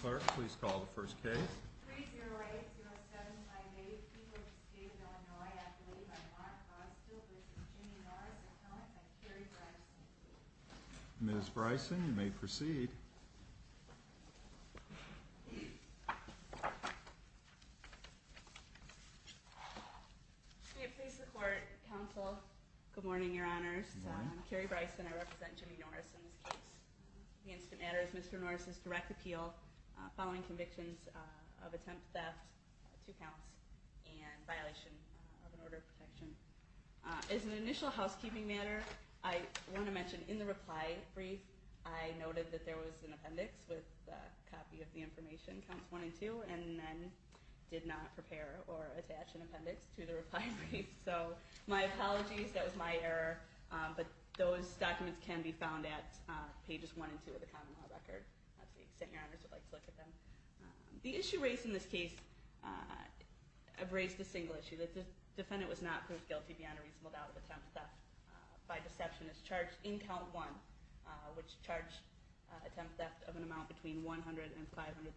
Clerk, please call the first case. 3-0-8-0-7-5-8 People of the State of Illinois Appellee by the Honor, Constable v. Jimmy Norris Appellant by Carrie Bryson Ms. Bryson, you may proceed. May it please the Court, Counsel, good morning, Your Honors. Good morning. I'm Carrie Bryson. I represent Jimmy Norris in this case. The incident matters Mr. Norris' direct appeal following convictions of attempt theft, two counts, and violation of an order of protection. As an initial housekeeping matter, I want to mention, in the reply brief, I noted that there was an appendix with a copy of the information, counts 1 and 2, and then did not prepare or attach an appendix to the reply brief. So, my apologies, that was my error, but those are pages 1 and 2 of the common law record, to the extent Your Honors would like to look at them. The issue raised in this case raised a single issue, that the defendant was not proved guilty beyond a reasonable doubt of attempt theft by deceptionist charged in count 1, which charged attempt theft of an amount between $100,000 and $500,000.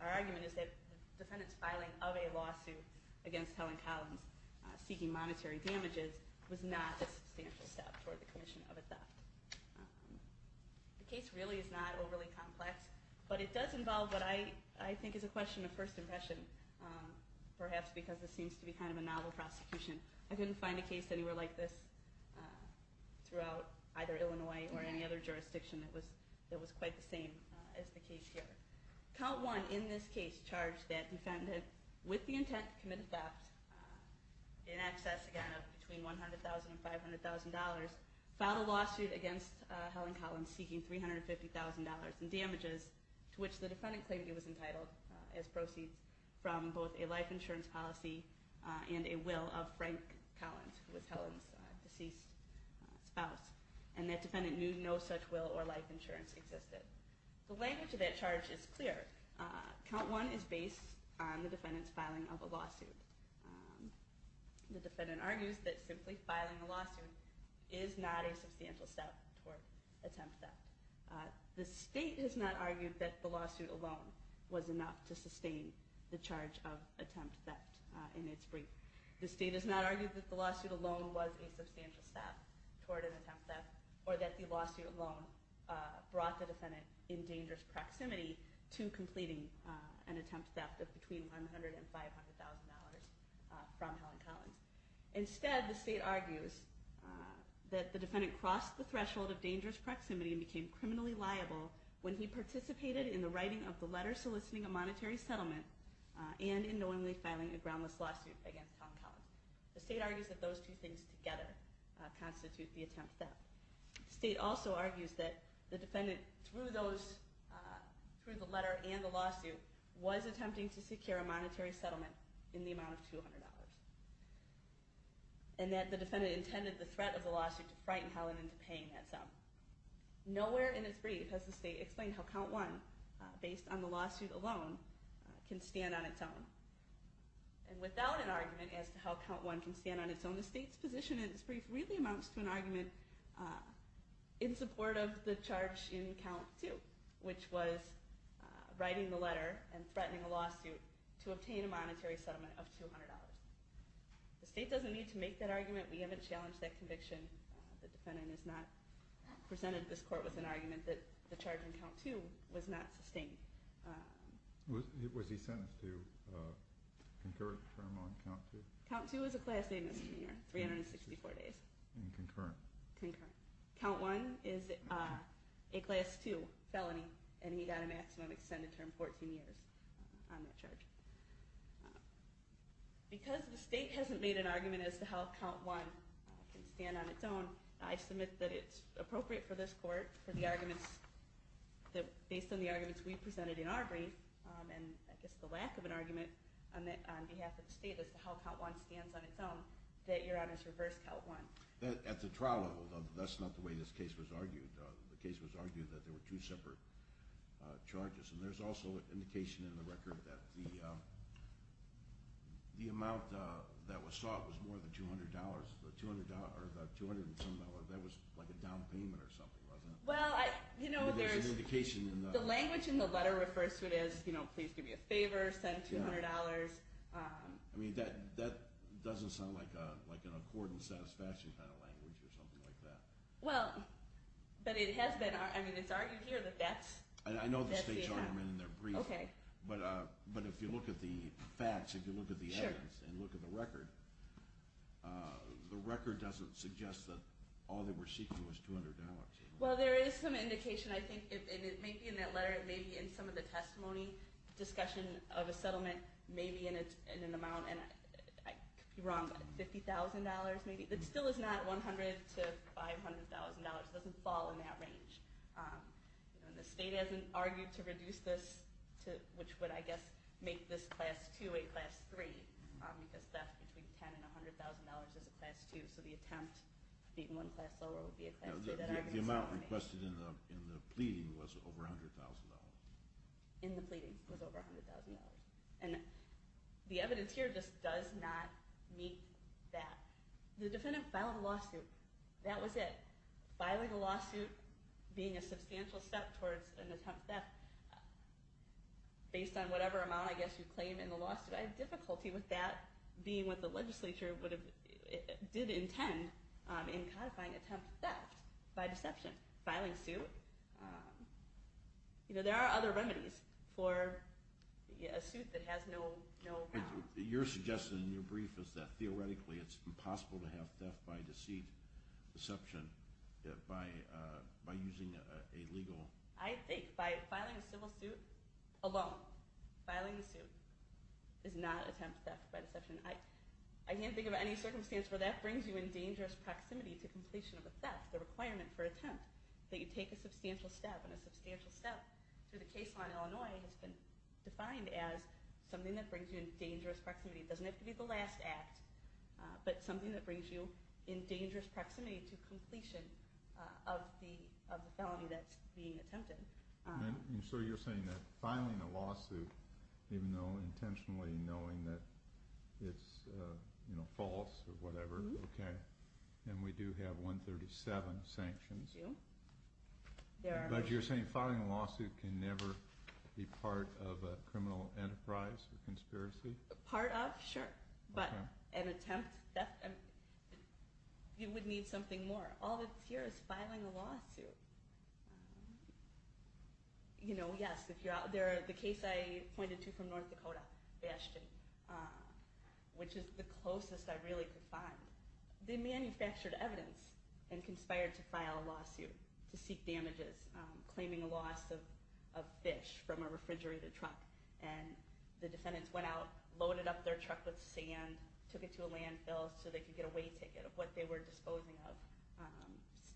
Our argument is that the defendant's filing of a lawsuit against Helen Collins seeking monetary damages was not a substantial step toward the commission of a theft. The case really is not overly complex, but it does involve what I think is a question of first impression, perhaps because this seems to be kind of a novel prosecution. I couldn't find a case anywhere like this throughout either Illinois or any other jurisdiction that was quite the same as the case here. Count 1, in this case, charged that defendant, with the intent to commit a theft, in excess again of between $100,000 and $500,000, filed a lawsuit against Helen Collins seeking $350,000 in damages to which the defendant claimed he was entitled as proceeds from both a life insurance policy and a will of Frank Collins, who was Helen's deceased spouse. And that defendant knew no such will or life insurance existed. The language of that charge is clear. Count 1 is based on the defendant's filing of a lawsuit. The defendant argues that simply filing a lawsuit is not a substantial step toward attempt theft. The state has not argued that the lawsuit alone was enough to sustain the charge of attempt theft in its brief. The state has not argued that the lawsuit alone was a substantial step toward an attempt theft, or that the lawsuit alone brought the defendant in dangerous proximity to completing an attempt theft of between $100,000 and $500,000 from Helen Collins. Instead, the state argues that the defendant crossed the threshold of dangerous proximity and became criminally liable when he participated in the writing of the letter soliciting a monetary settlement and in knowingly filing a groundless lawsuit against Helen Collins. The state argues that those two things together constitute the attempt theft. The state also argues that the defendant, through the letter and the lawsuit, was attempting to secure a monetary settlement in the amount of $200. And that the defendant intended the threat of the lawsuit to frighten Helen into paying that sum. Nowhere in its brief has the state explained how Count 1, based on the lawsuit alone, can stand on its own. And without an argument as to how Count 1 can stand on its own, the state's position in its brief really amounts to an argument in support of the charge in Count 2, which was writing the letter and threatening a lawsuit to obtain a monetary settlement of $200. The state doesn't need to make that argument. We haven't challenged that conviction. The defendant has not presented this court with an argument that the charge in Count 2 was not sustained. Was he sentenced to concurrent term on Count 2? Count 2 is a class A misdemeanor. 364 days. And concurrent? Concurrent. Count 1 is a class 2 felony. And he got a maximum extended term, 14 years on that charge. Because the state hasn't made an argument as to how Count 1 can stand on its own, I submit that it's appropriate for this court, for the arguments that, based on the arguments we presented in our brief, and I guess the lack of an argument on behalf of the state as to how Count 1 stands on its own, that Your Honors reverse Count 1. At the trial level, that's not the way this case was argued. The case was argued that there were two separate charges. And there's also an indication in the record that the amount that was sought was more than $200. The $200, the $200 and some other, that was like a down payment or something, wasn't it? Well, you know, there's an indication in the... The language in the letter refers to it as, you know, please give me a favor, send $200. I mean, that doesn't sound like an accord and satisfaction kind of language or something like that. Well, but it has been I mean, it's argued here that that's... I know the state's argument in their brief, but if you look at the facts, if you look at the evidence, and look at the record, the record doesn't suggest that all they were seeking was $200. Well, there is some indication, I think, and it may be in that letter, it may be in some of the testimony discussion of a settlement, maybe in an amount, and I could be wrong, $50,000 maybe, but still it's not $100,000 to $500,000. It doesn't fall in that range. The state hasn't argued to reduce this to which would, I guess, make this class 2 a class 3, because that's between $10,000 and $100,000 as a class 2, so the attempt to beat one class lower would be a class 3. The amount requested in the pleading was over $100,000. In the pleading was over $100,000. And the evidence here just does not meet that. The defendant filed a lawsuit. That was it. Filing a lawsuit, being a substantial step towards an attempt theft, based on whatever amount, I guess, you claim in the lawsuit, I have difficulty with that being what the legislature did intend in codifying attempt theft by deception. Filing suit, there are other remedies for a suit that has no... Your suggestion in your brief is that theoretically it's impossible to have theft by deceit deception by using a legal... I think by filing a civil suit alone, filing a suit is not attempt theft by deception. I can't think of any circumstance where that brings you in dangerous proximity to completion of a theft, the requirement for an attempt that you take a substantial step, and a substantial step through the case law in Illinois has been defined as something that brings you in dangerous proximity. It doesn't have to be the last act, but something that brings you in dangerous proximity to completion of the felony that's being attempted. So you're saying that filing a lawsuit even though intentionally knowing that it's false or whatever, and we do have 137 sanctions. But you're saying filing a lawsuit can never be part of a criminal enterprise or conspiracy? Part of, sure, but an attempt theft, you would need something more. All that's here is filing a lawsuit. Yes, if you're out there, the case I pointed to from North Dakota, Bastion, which is the closest I really could find, they manufactured evidence and conspired to file a lawsuit to seek damages, claiming a loss of fish from a refrigerated truck, and the defendants went out, loaded up their truck with sand, took it to a landfill so they could get a way ticket of what they were disposing of,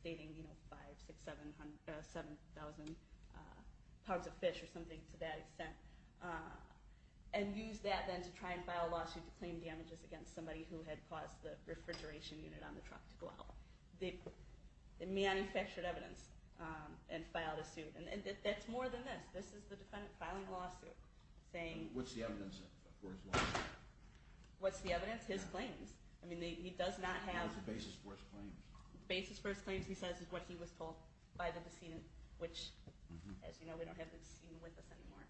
stating, you know, 5, 6, 7, 7,000 pounds of fish or something to that extent, and used that then to try and file a lawsuit to claim damages against somebody who had caused the refrigeration unit on the truck to go out. They manufactured evidence and filed a suit. And that's more than this. This is the defendant filing a lawsuit, saying... What's the evidence for his lawsuit? What's the evidence? His claims. I mean, he does not have... What's the basis for his claims? The basis for his claims, he says, is what he was told by the decedent, which, as you know, we don't have the decedent with us anymore.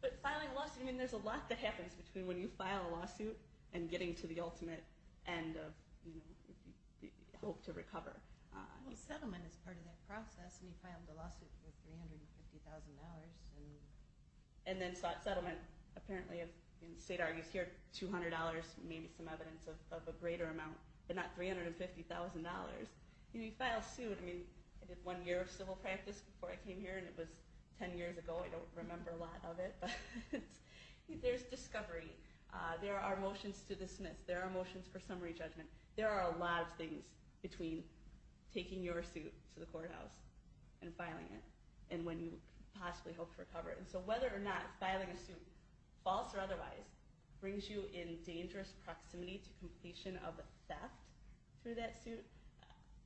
But filing a lawsuit, I mean, there's a lot that happens between when you file a lawsuit and getting to the ultimate end of, you know, hope to recover. Well, settlement is part of that process. And he filed a lawsuit for $350,000. And then sought settlement. Apparently, the state argues here, $200, maybe some evidence of a greater amount. But not $350,000. He filed suit. I mean, I did one year of civil practice before I came here, and it was 10 years ago. I don't remember a lot of it. There's discovery. There are motions to dismiss. There are motions for summary judgment. There are a lot of things between taking your suit to the courthouse and filing it, and when you possibly hope to recover it. So whether or not filing a suit, false or otherwise, brings you in dangerous proximity to completion of theft through that suit,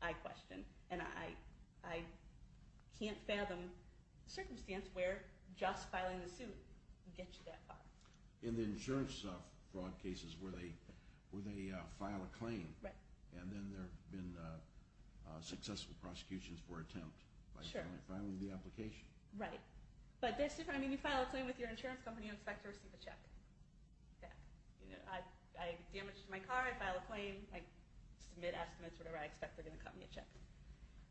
I question. And I can't fathom a circumstance where just filing the suit would get you that far. In the insurance fraud cases, where they file a claim, and then there have been successful prosecutions for attempt by filing the application. Right. But that's different. I mean, you file a claim with your insurance company, you expect to receive a check. I damaged my car, I file a claim, I submit estimates or whatever, I expect they're going to cut me a check.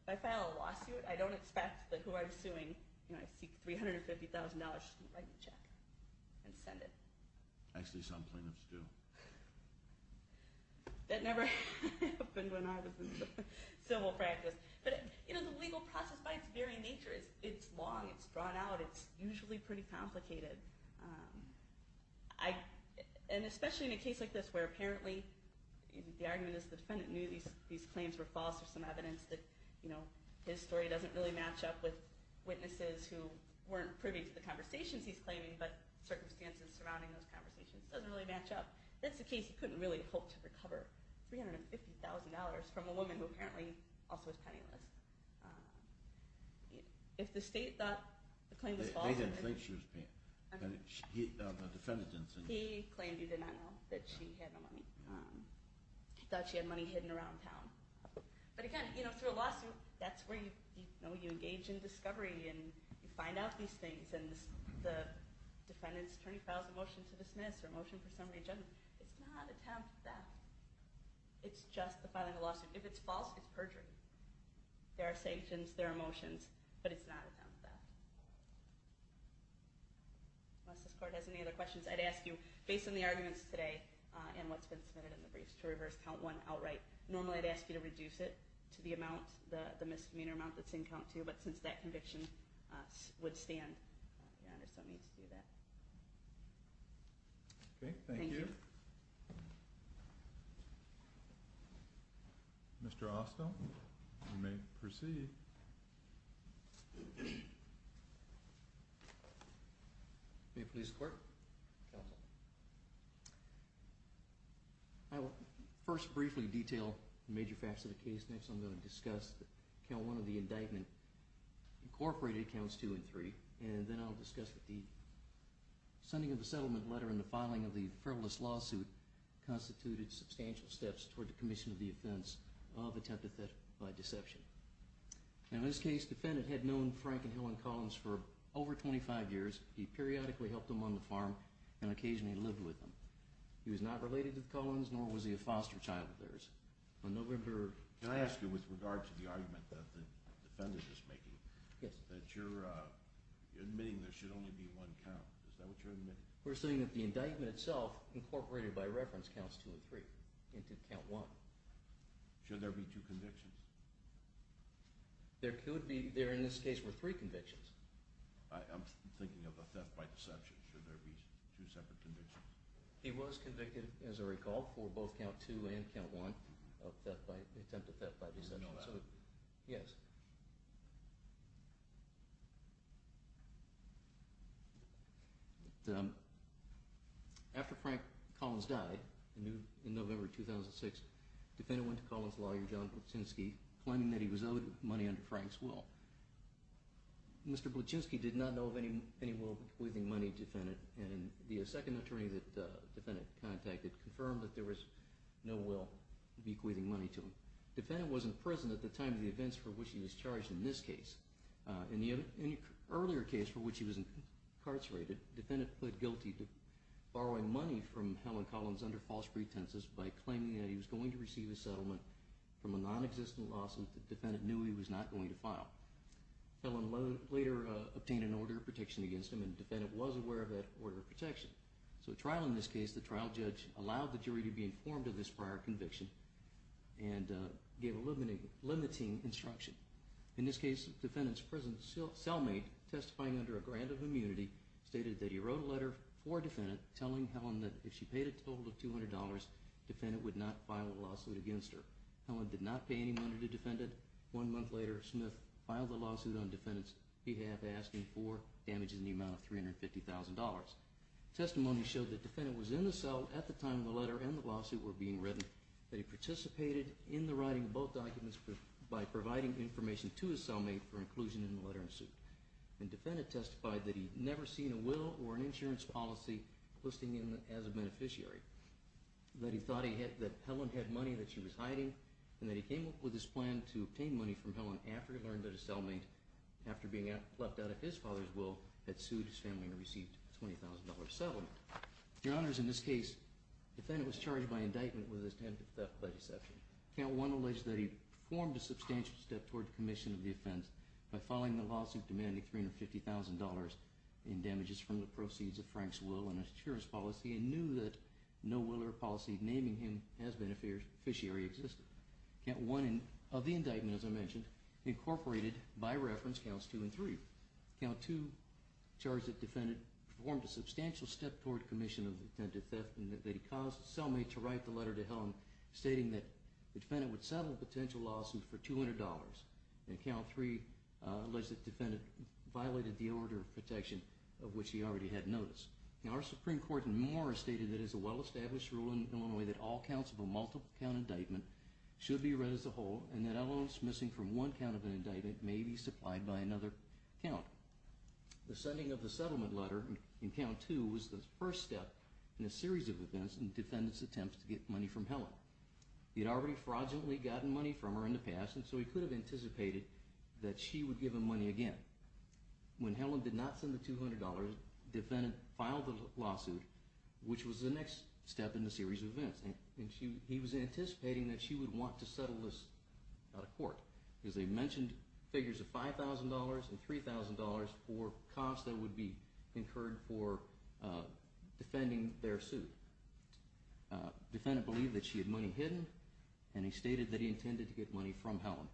If I file a lawsuit, I don't expect that who I'm suing, you know, I seek $350,000 to write the check and send it. Actually, some plaintiffs do. That never happened when I was in civil practice. But, you know, the legal process, by its very nature, it's long, it's drawn out, it's usually pretty complicated. And especially in a case like this, where apparently the argument is the defendant knew these claims were false, or some evidence that, you know, his story doesn't really match up with the witnesses who weren't privy to the conversations he's claiming, but circumstances surrounding those conversations doesn't really match up, that's a case you couldn't really hope to recover $350,000 from a woman who apparently also is penniless. If the state thought the claim was false... They didn't think she was penniless. He claimed he did not know that she had no money. He thought she had money hidden around town. But again, you know, through a lawsuit, that's where you engage in discovery, and you find out these things, and the defendant's attorney files a motion to dismiss, or a motion for summary judgment. It's not a town theft. It's just the filing of a lawsuit. If it's false, it's perjury. There are sanctions, there are motions, but it's not a town theft. Unless this court has any other questions, I'd ask you, based on the arguments today, and what's been submitted in the briefs, to reverse count one outright. Normally I'd ask you to reduce it to the amount, the misdemeanor amount that's in count two, but since that conviction would stand, I just don't need to do that. Okay. Thank you. Mr. Austin, you may proceed. May it please the court. Counsel. I will first briefly detail the major facts of the case. Next I'm going to discuss that count one of the indictment incorporated counts two and three, and then I'll discuss that the sending of the settlement letter and the filing of the frivolous lawsuit constituted substantial steps toward the commission of the offense of attempted theft by deception. In this case, the defendant had known Frank and Helen Collins for over 25 years. He periodically helped them on the farm, and occasionally lived with them. He was not related to the Collins, nor was he a foster child of theirs. Can I ask you, with regard to the argument that the defendant is making, that you're admitting there should only be one count. Is that what you're admitting? We're saying that the indictment itself, incorporated by reference, counts two and three. Count one. Should there be two convictions? There could be. There in this case were three convictions. I'm thinking of a theft by deception. Should there be two separate convictions? He was convicted, as I recall, for both count two and count one of attempted theft by deception. Yes. After Frank Collins died in November 2006, the defendant went to Collins' lawyer, John Bluchinski, claiming that he was owed money under Frank's will. Mr. Bluchinski did not know of any will bequeathing money to the defendant. The second attorney that the defendant contacted confirmed that there was no will bequeathing money to him. The defendant was in prison at the time of the events for which he was charged in this case. In the earlier case for which he was incarcerated, the defendant pled guilty to borrowing money from Helen Collins under false pretenses by claiming that he was going to receive a settlement from a non-existent loss that the defendant knew he was not going to file. Helen later obtained an order of protection against him, and the defendant was aware of that order of protection. So the trial in this case, the trial judge allowed the jury to be informed of this prior conviction and gave a limiting instruction. In this case, the defendant's cellmate, testifying under a grant of immunity, stated that he wrote a letter for a defendant telling Helen that if she paid a total of $200, the defendant would not file a lawsuit against her. Helen did not pay any money to the defendant, and did not file the lawsuit on the defendant's behalf asking for damages in the amount of $350,000. Testimony showed that the defendant was in the cell at the time the letter and the lawsuit were being written, that he participated in the writing of both documents by providing information to his cellmate for inclusion in the letter and suit. The defendant testified that he had never seen a will or an insurance policy listing him as a beneficiary, that he thought that Helen had money that she was hiding, and that he came up with his plan to obtain money from Helen after he learned that his cellmate, after being left out of his father's will, had sued his family and received a $20,000 settlement. Your Honors, in this case, the defendant was charged by indictment with attempted theft by deception. Count 1 alleged that he performed a substantial step toward commission of the offense by filing the lawsuit demanding $350,000 in damages from the proceeds of Frank's will and insurance policy, and knew that no will or policy naming him as a beneficiary of the indictment, as I mentioned, incorporated, by reference, Counts 2 and 3. Count 2 charged that the defendant performed a substantial step toward commission of the attempted theft, and that he caused the cellmate to write the letter to Helen stating that the defendant would settle the potential lawsuit for $200, and Count 3 alleged that the defendant violated the order of protection of which he already had notice. Our Supreme Court in Moore stated that it is a well-established rule in Illinois that all counts of a defense are false, as a whole, and that elements missing from one count of an indictment may be supplied by another count. The sending of the settlement letter in Count 2 was the first step in a series of events in the defendant's attempts to get money from Helen. He had already fraudulently gotten money from her in the past, and so he could have anticipated that she would give him money again. When Helen did not send the $200, the defendant filed the lawsuit, which was the next step in the series of events. He was anticipating that she would want to settle this out of court, because they mentioned figures of $5,000 and $3,000 for costs that would be incurred for defending their suit. The defendant believed that she had money hidden, and he stated that he intended to get money from Helen.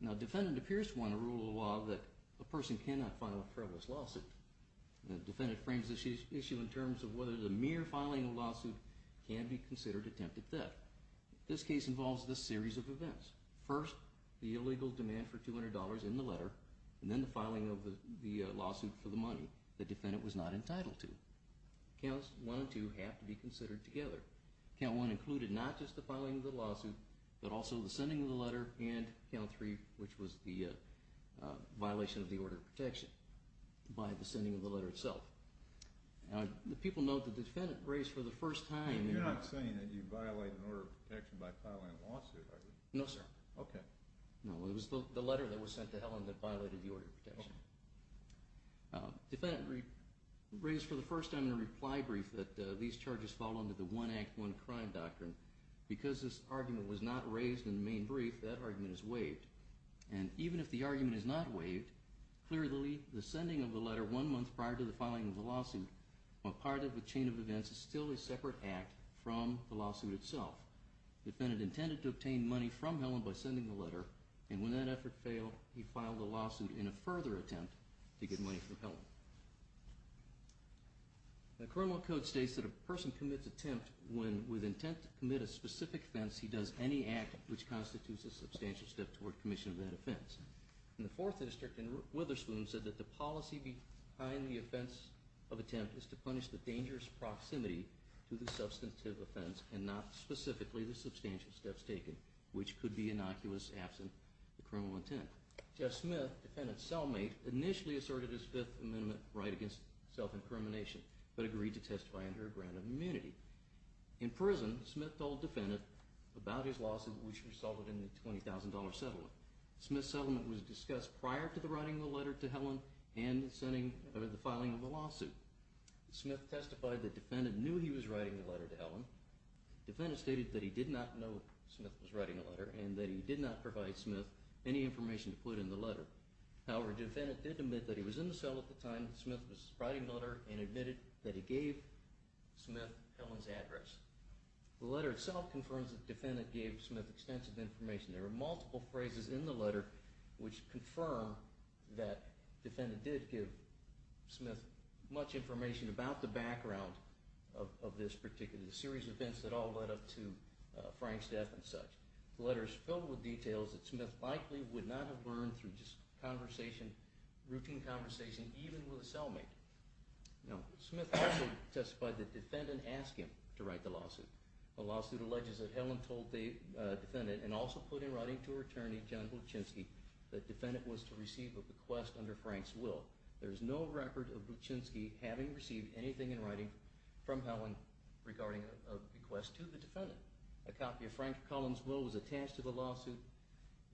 Now, the defendant appears to want to rule a law that a person cannot file a frivolous lawsuit. The defendant frames this issue in terms of whether the case is considered attempted theft. This case involves this series of events. First, the illegal demand for $200 in the letter, and then the filing of the lawsuit for the money the defendant was not entitled to. Counts 1 and 2 have to be considered together. Count 1 included not just the filing of the lawsuit, but also the sending of the letter, and Count 3, which was the violation of the order of protection by the sending of the letter itself. Now, the people know that the defendant was sent to Helen, and you violate an order of protection by filing a lawsuit, I believe. No, sir. Okay. No, it was the letter that was sent to Helen that violated the order of protection. Defendant raised for the first time in a reply brief that these charges fall under the one act, one crime doctrine. Because this argument was not raised in the main brief, that argument is waived. And even if the argument is not waived, clearly the sending of the letter one month prior to the filing of the lawsuit, while part of the chain of events, is still a separate act from the lawsuit itself. The defendant intended to obtain money from Helen by sending the letter, and when that effort failed, he filed a lawsuit in a further attempt to get money from Helen. The criminal code states that a person commits an attempt when, with intent to commit a specific offense, he does any act which constitutes a substantial step toward commission of that offense. And the Fourth District in Witherspoon said that the policy behind the offense of attempt is to punish the dangerous proximity to the substantive offense and not specifically the substantial steps taken, which could be innocuous absent the criminal intent. Jeff Smith, defendant's cellmate, initially asserted his Fifth Amendment right against self-incrimination, but agreed to testify under a grant of immunity. In prison, Smith told the defendant about his lawsuit, which resulted in the $20,000 settlement. Smith's settlement was discussed prior to the writing of the letter to Helen and the filing of the lawsuit. Smith testified that the defendant knew he was writing the letter to Helen. The defendant stated that he did not know Smith was writing the letter and that he did not provide Smith any information to put in the letter. However, the defendant did admit that he was in the cell at the time Smith was writing the letter and admitted that he gave Smith Helen's address. The letter itself confirms that the defendant gave Smith extensive information. There were multiple phrases in the letter that the defendant did give Smith much information about the background of this particular series of events that all led up to Frank's death and such. The letter is filled with details that Smith likely would not have learned through just conversation, routine conversation, even with a cellmate. Now, Smith also testified that the defendant asked him to write the lawsuit. The lawsuit alleges that Helen told the defendant and also put in writing to her attorney, John Buczynski, that the defendant was to receive a bequest under Frank's will. There is no record of Buczynski having received anything in writing from Helen regarding a bequest to the defendant. A copy of Frank Collins' will was attached to the lawsuit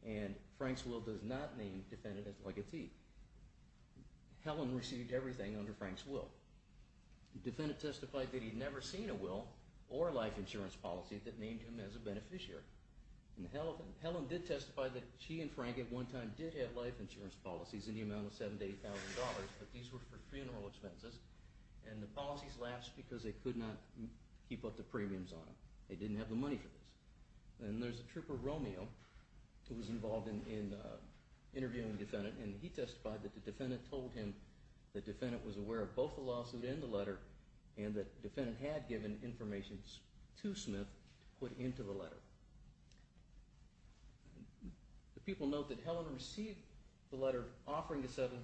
and Frank's will does not name the defendant as a legatee. Helen received everything under Frank's will. The defendant testified that he had never seen a will or life insurance policy that named him as a beneficiary. Helen did testify that she and Frank at one time did have life insurance policies in the amount of $7,000 to $8,000 but these were for funeral expenses and the policies latched because they could not keep up the premiums on them. They didn't have the money for this. And there's a trooper, Romeo, who was involved in interviewing the defendant and he testified that the defendant told him that the defendant was aware of both the lawsuit and the letter and that the defendant had given information to Smith to put into the letter. The people note that Helen received the letter offering to settle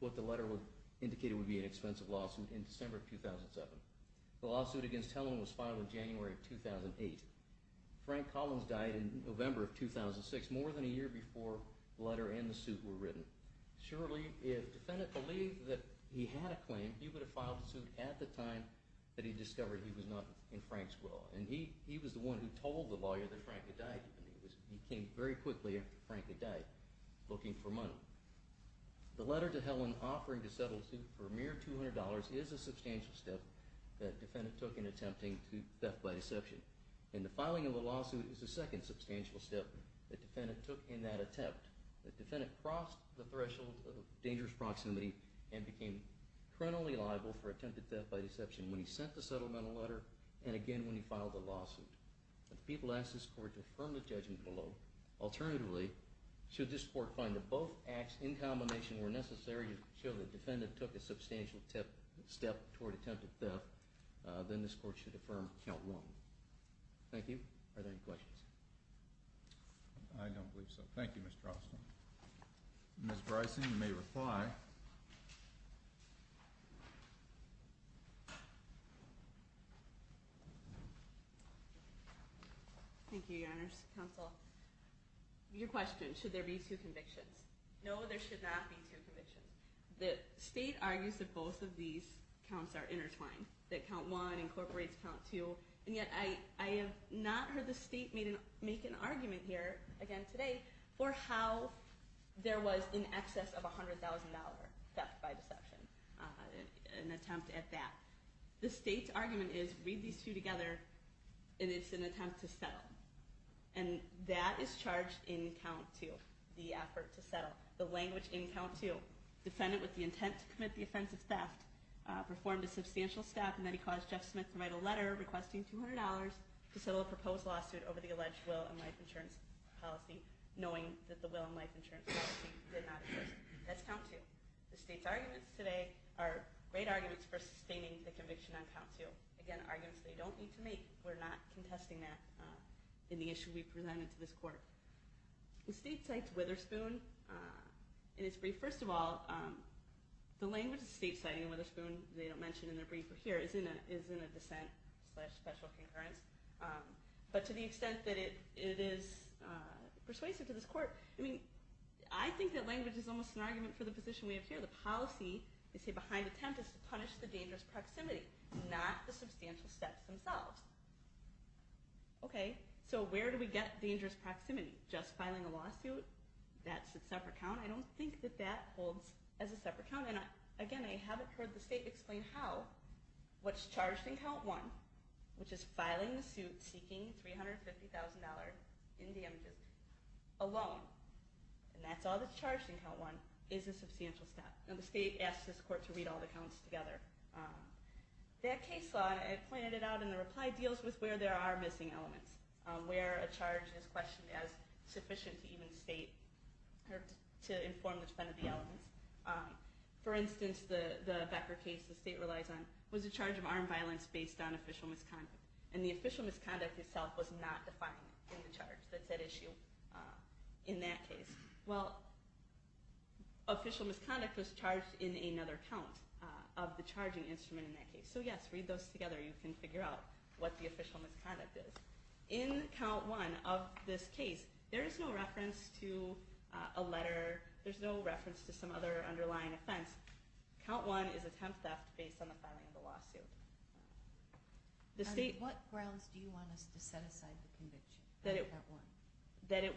what the letter indicated would be an expensive lawsuit in December of 2007. The lawsuit against Helen was filed in January of 2008. Frank Collins died in November of 2006, more than a year before the letter and the suit were written. Surely if the defendant believed that he had a claim, he would have filed the suit at the time that he discovered that he was not in Frank's will. He was the one who told the lawyer that Frank had died. He came very quickly after Frank had died, looking for money. The letter to Helen offering to settle the suit for a mere $200 is a substantial step that the defendant took in attempting theft by deception. And the filing of the lawsuit is the second substantial step that the defendant took in that attempt. The defendant crossed the threshold of dangerous proximity and became criminally liable for attempted theft. The defendant was not listed in the letter and again when he filed the lawsuit. If the people ask this court to affirm the judgment below, alternatively, should this court find that both acts in combination were necessary to show that the defendant took a substantial step toward attempted theft, then this court should affirm count one. Thank you. Are there any questions? I don't believe so. Thank you, Mr. Austin. Ms. Bryson, you may reply. Thank you, Your Honor's Counsel. Your question, should there be two convictions? No, there should not be two convictions. The state argues that both of these counts are intertwined. That count one incorporates count two. And yet I have not heard the state make an argument here again today for how there was in excess of $100,000 theft by deception. An attempt at that. The state's argument is, read these two together, and it's an attempt to settle. And that is charged in count two, the effort to settle. The language in count two, defendant with the intent to commit the offense of theft performed a substantial step and then he caused Jeff Smith to write a letter requesting $200 to settle a proposed lawsuit over the alleged will and life insurance policy, knowing that the will and life insurance policy did not exist. That's count two. The state's arguments today are great arguments for sustaining the conviction on count two. Again, arguments they don't need to make. We're not contesting that in the issue we presented to this court. The state cites Witherspoon in its brief. First of all, the language of the state citing Witherspoon, they don't mention in their brief here, is in a dissent slash special concurrence. But to the extent that it is persuasive to this court, I think that language is almost an argument for the position we have here. The policy behind the attempt is to punish the dangerous proximity, not the substantial steps themselves. Okay, so where do we get dangerous proximity? Just filing a lawsuit? That's a separate count? I don't think that that holds as a separate count. And again, I haven't heard the state explain how. What's charged in count one, which is filing the suit seeking $350,000 in damages alone, and that's all that's charged in count one, is a substantial step. And the state asks this court to read all the counts together. That case law, I pointed it out in the reply, deals with where there are missing elements. Where a charge is questioned as sufficient to even state to inform which one of the elements. For instance, the Becker case, which the state relies on, was a charge of armed violence based on official misconduct. And the official misconduct itself was not defined in the charge. That's at issue in that case. Well, official misconduct was charged in another count of the charging instrument in that case. So yes, read those together. You can figure out what the official misconduct is. In count one of this case, there is no reference to a letter. There's no reference to some other underlying offense. Count one is attempt theft based on the filing of the lawsuit. What grounds do you want us to set aside the conviction? That it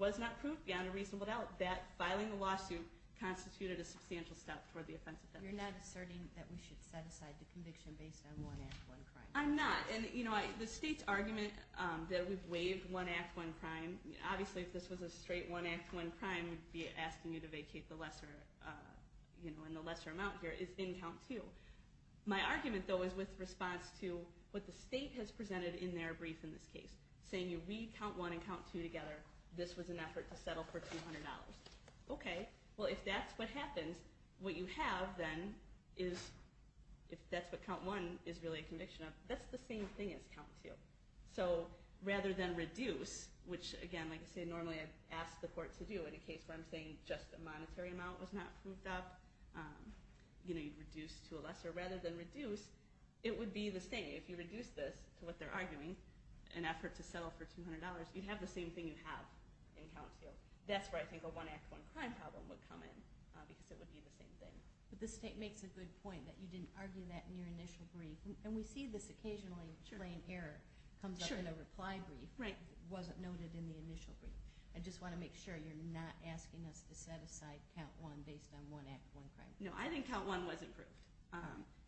was not proved beyond a reasonable doubt that filing the lawsuit constituted a substantial step toward the offense of theft. You're not asserting that we should set aside the conviction based on one act, one crime? I'm not. And you know, the state's argument that we've waived one act, one crime, obviously if this was a straight one act, one crime, we'd be in the lesser amount here, is in count two. My argument though is with response to what the state has presented in their brief in this case. Saying we count one and count two together, this was an effort to settle for $200. Okay, well if that's what happens, what you have then is if that's what count one is really a conviction of, that's the same thing as count two. So rather than reduce, which again, like I say, normally I ask the court to do in a case where I'm saying just a monetary amount was not proved up, you know, you'd reduce to a lesser. Rather than reduce, it would be the same. If you reduce this to what they're arguing, an effort to settle for $200, you'd have the same thing you have in count two. That's where I think a one act, one crime problem would come in because it would be the same thing. But the state makes a good point that you didn't argue that in your initial brief. And we see this occasionally, plain error. It comes up in a reply brief. It wasn't noted in the initial brief. I just want to make sure you're not asking us to set aside count one based on one act, one crime. No, I think count one was improved.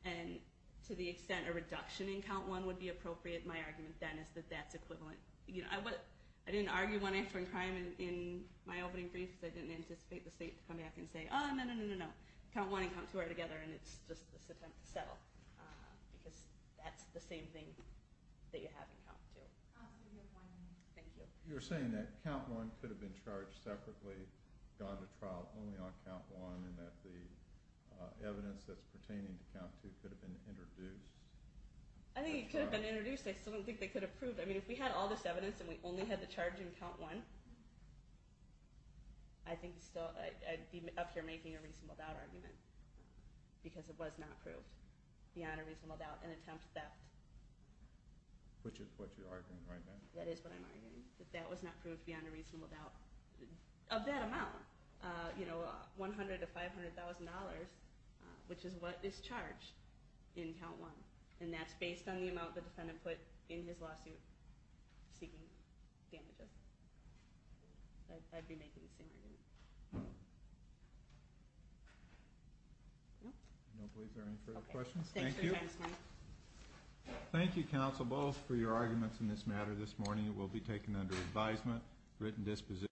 And to the extent a reduction in count one would be appropriate, my argument then is that that's equivalent. You know, I didn't argue one act, one crime in my opening brief because I didn't anticipate the state to come back and say, oh, no, no, no, no, no. Count one and count two are together and it's just this attempt to settle. Because that's the same thing that you have in count two. Thank you. You're saying that count one could have been charged separately, gone to trial only on count one, and that the evidence that's pertaining to count two could have been introduced? I think it could have been introduced. I still don't think they could have proved. I mean, if we had all this evidence and we only had the charge in count one, I think still, I'd be up here making a reasonable doubt argument. Because it was not proved. Beyond a reasonable doubt, an attempt that Which is what you're arguing right now. That is what I'm arguing. That that was not proved beyond a reasonable doubt. Of that amount. You know, $100,000 to $500,000 which is what is charged in count one. And that's based on the amount the defendant put in his lawsuit seeking damages. I'd be making the same argument. I don't believe there are any further questions. Thank you. Thank you, counsel, both, for your arguments in this matter this morning. It will be taken under advisement, written disposition.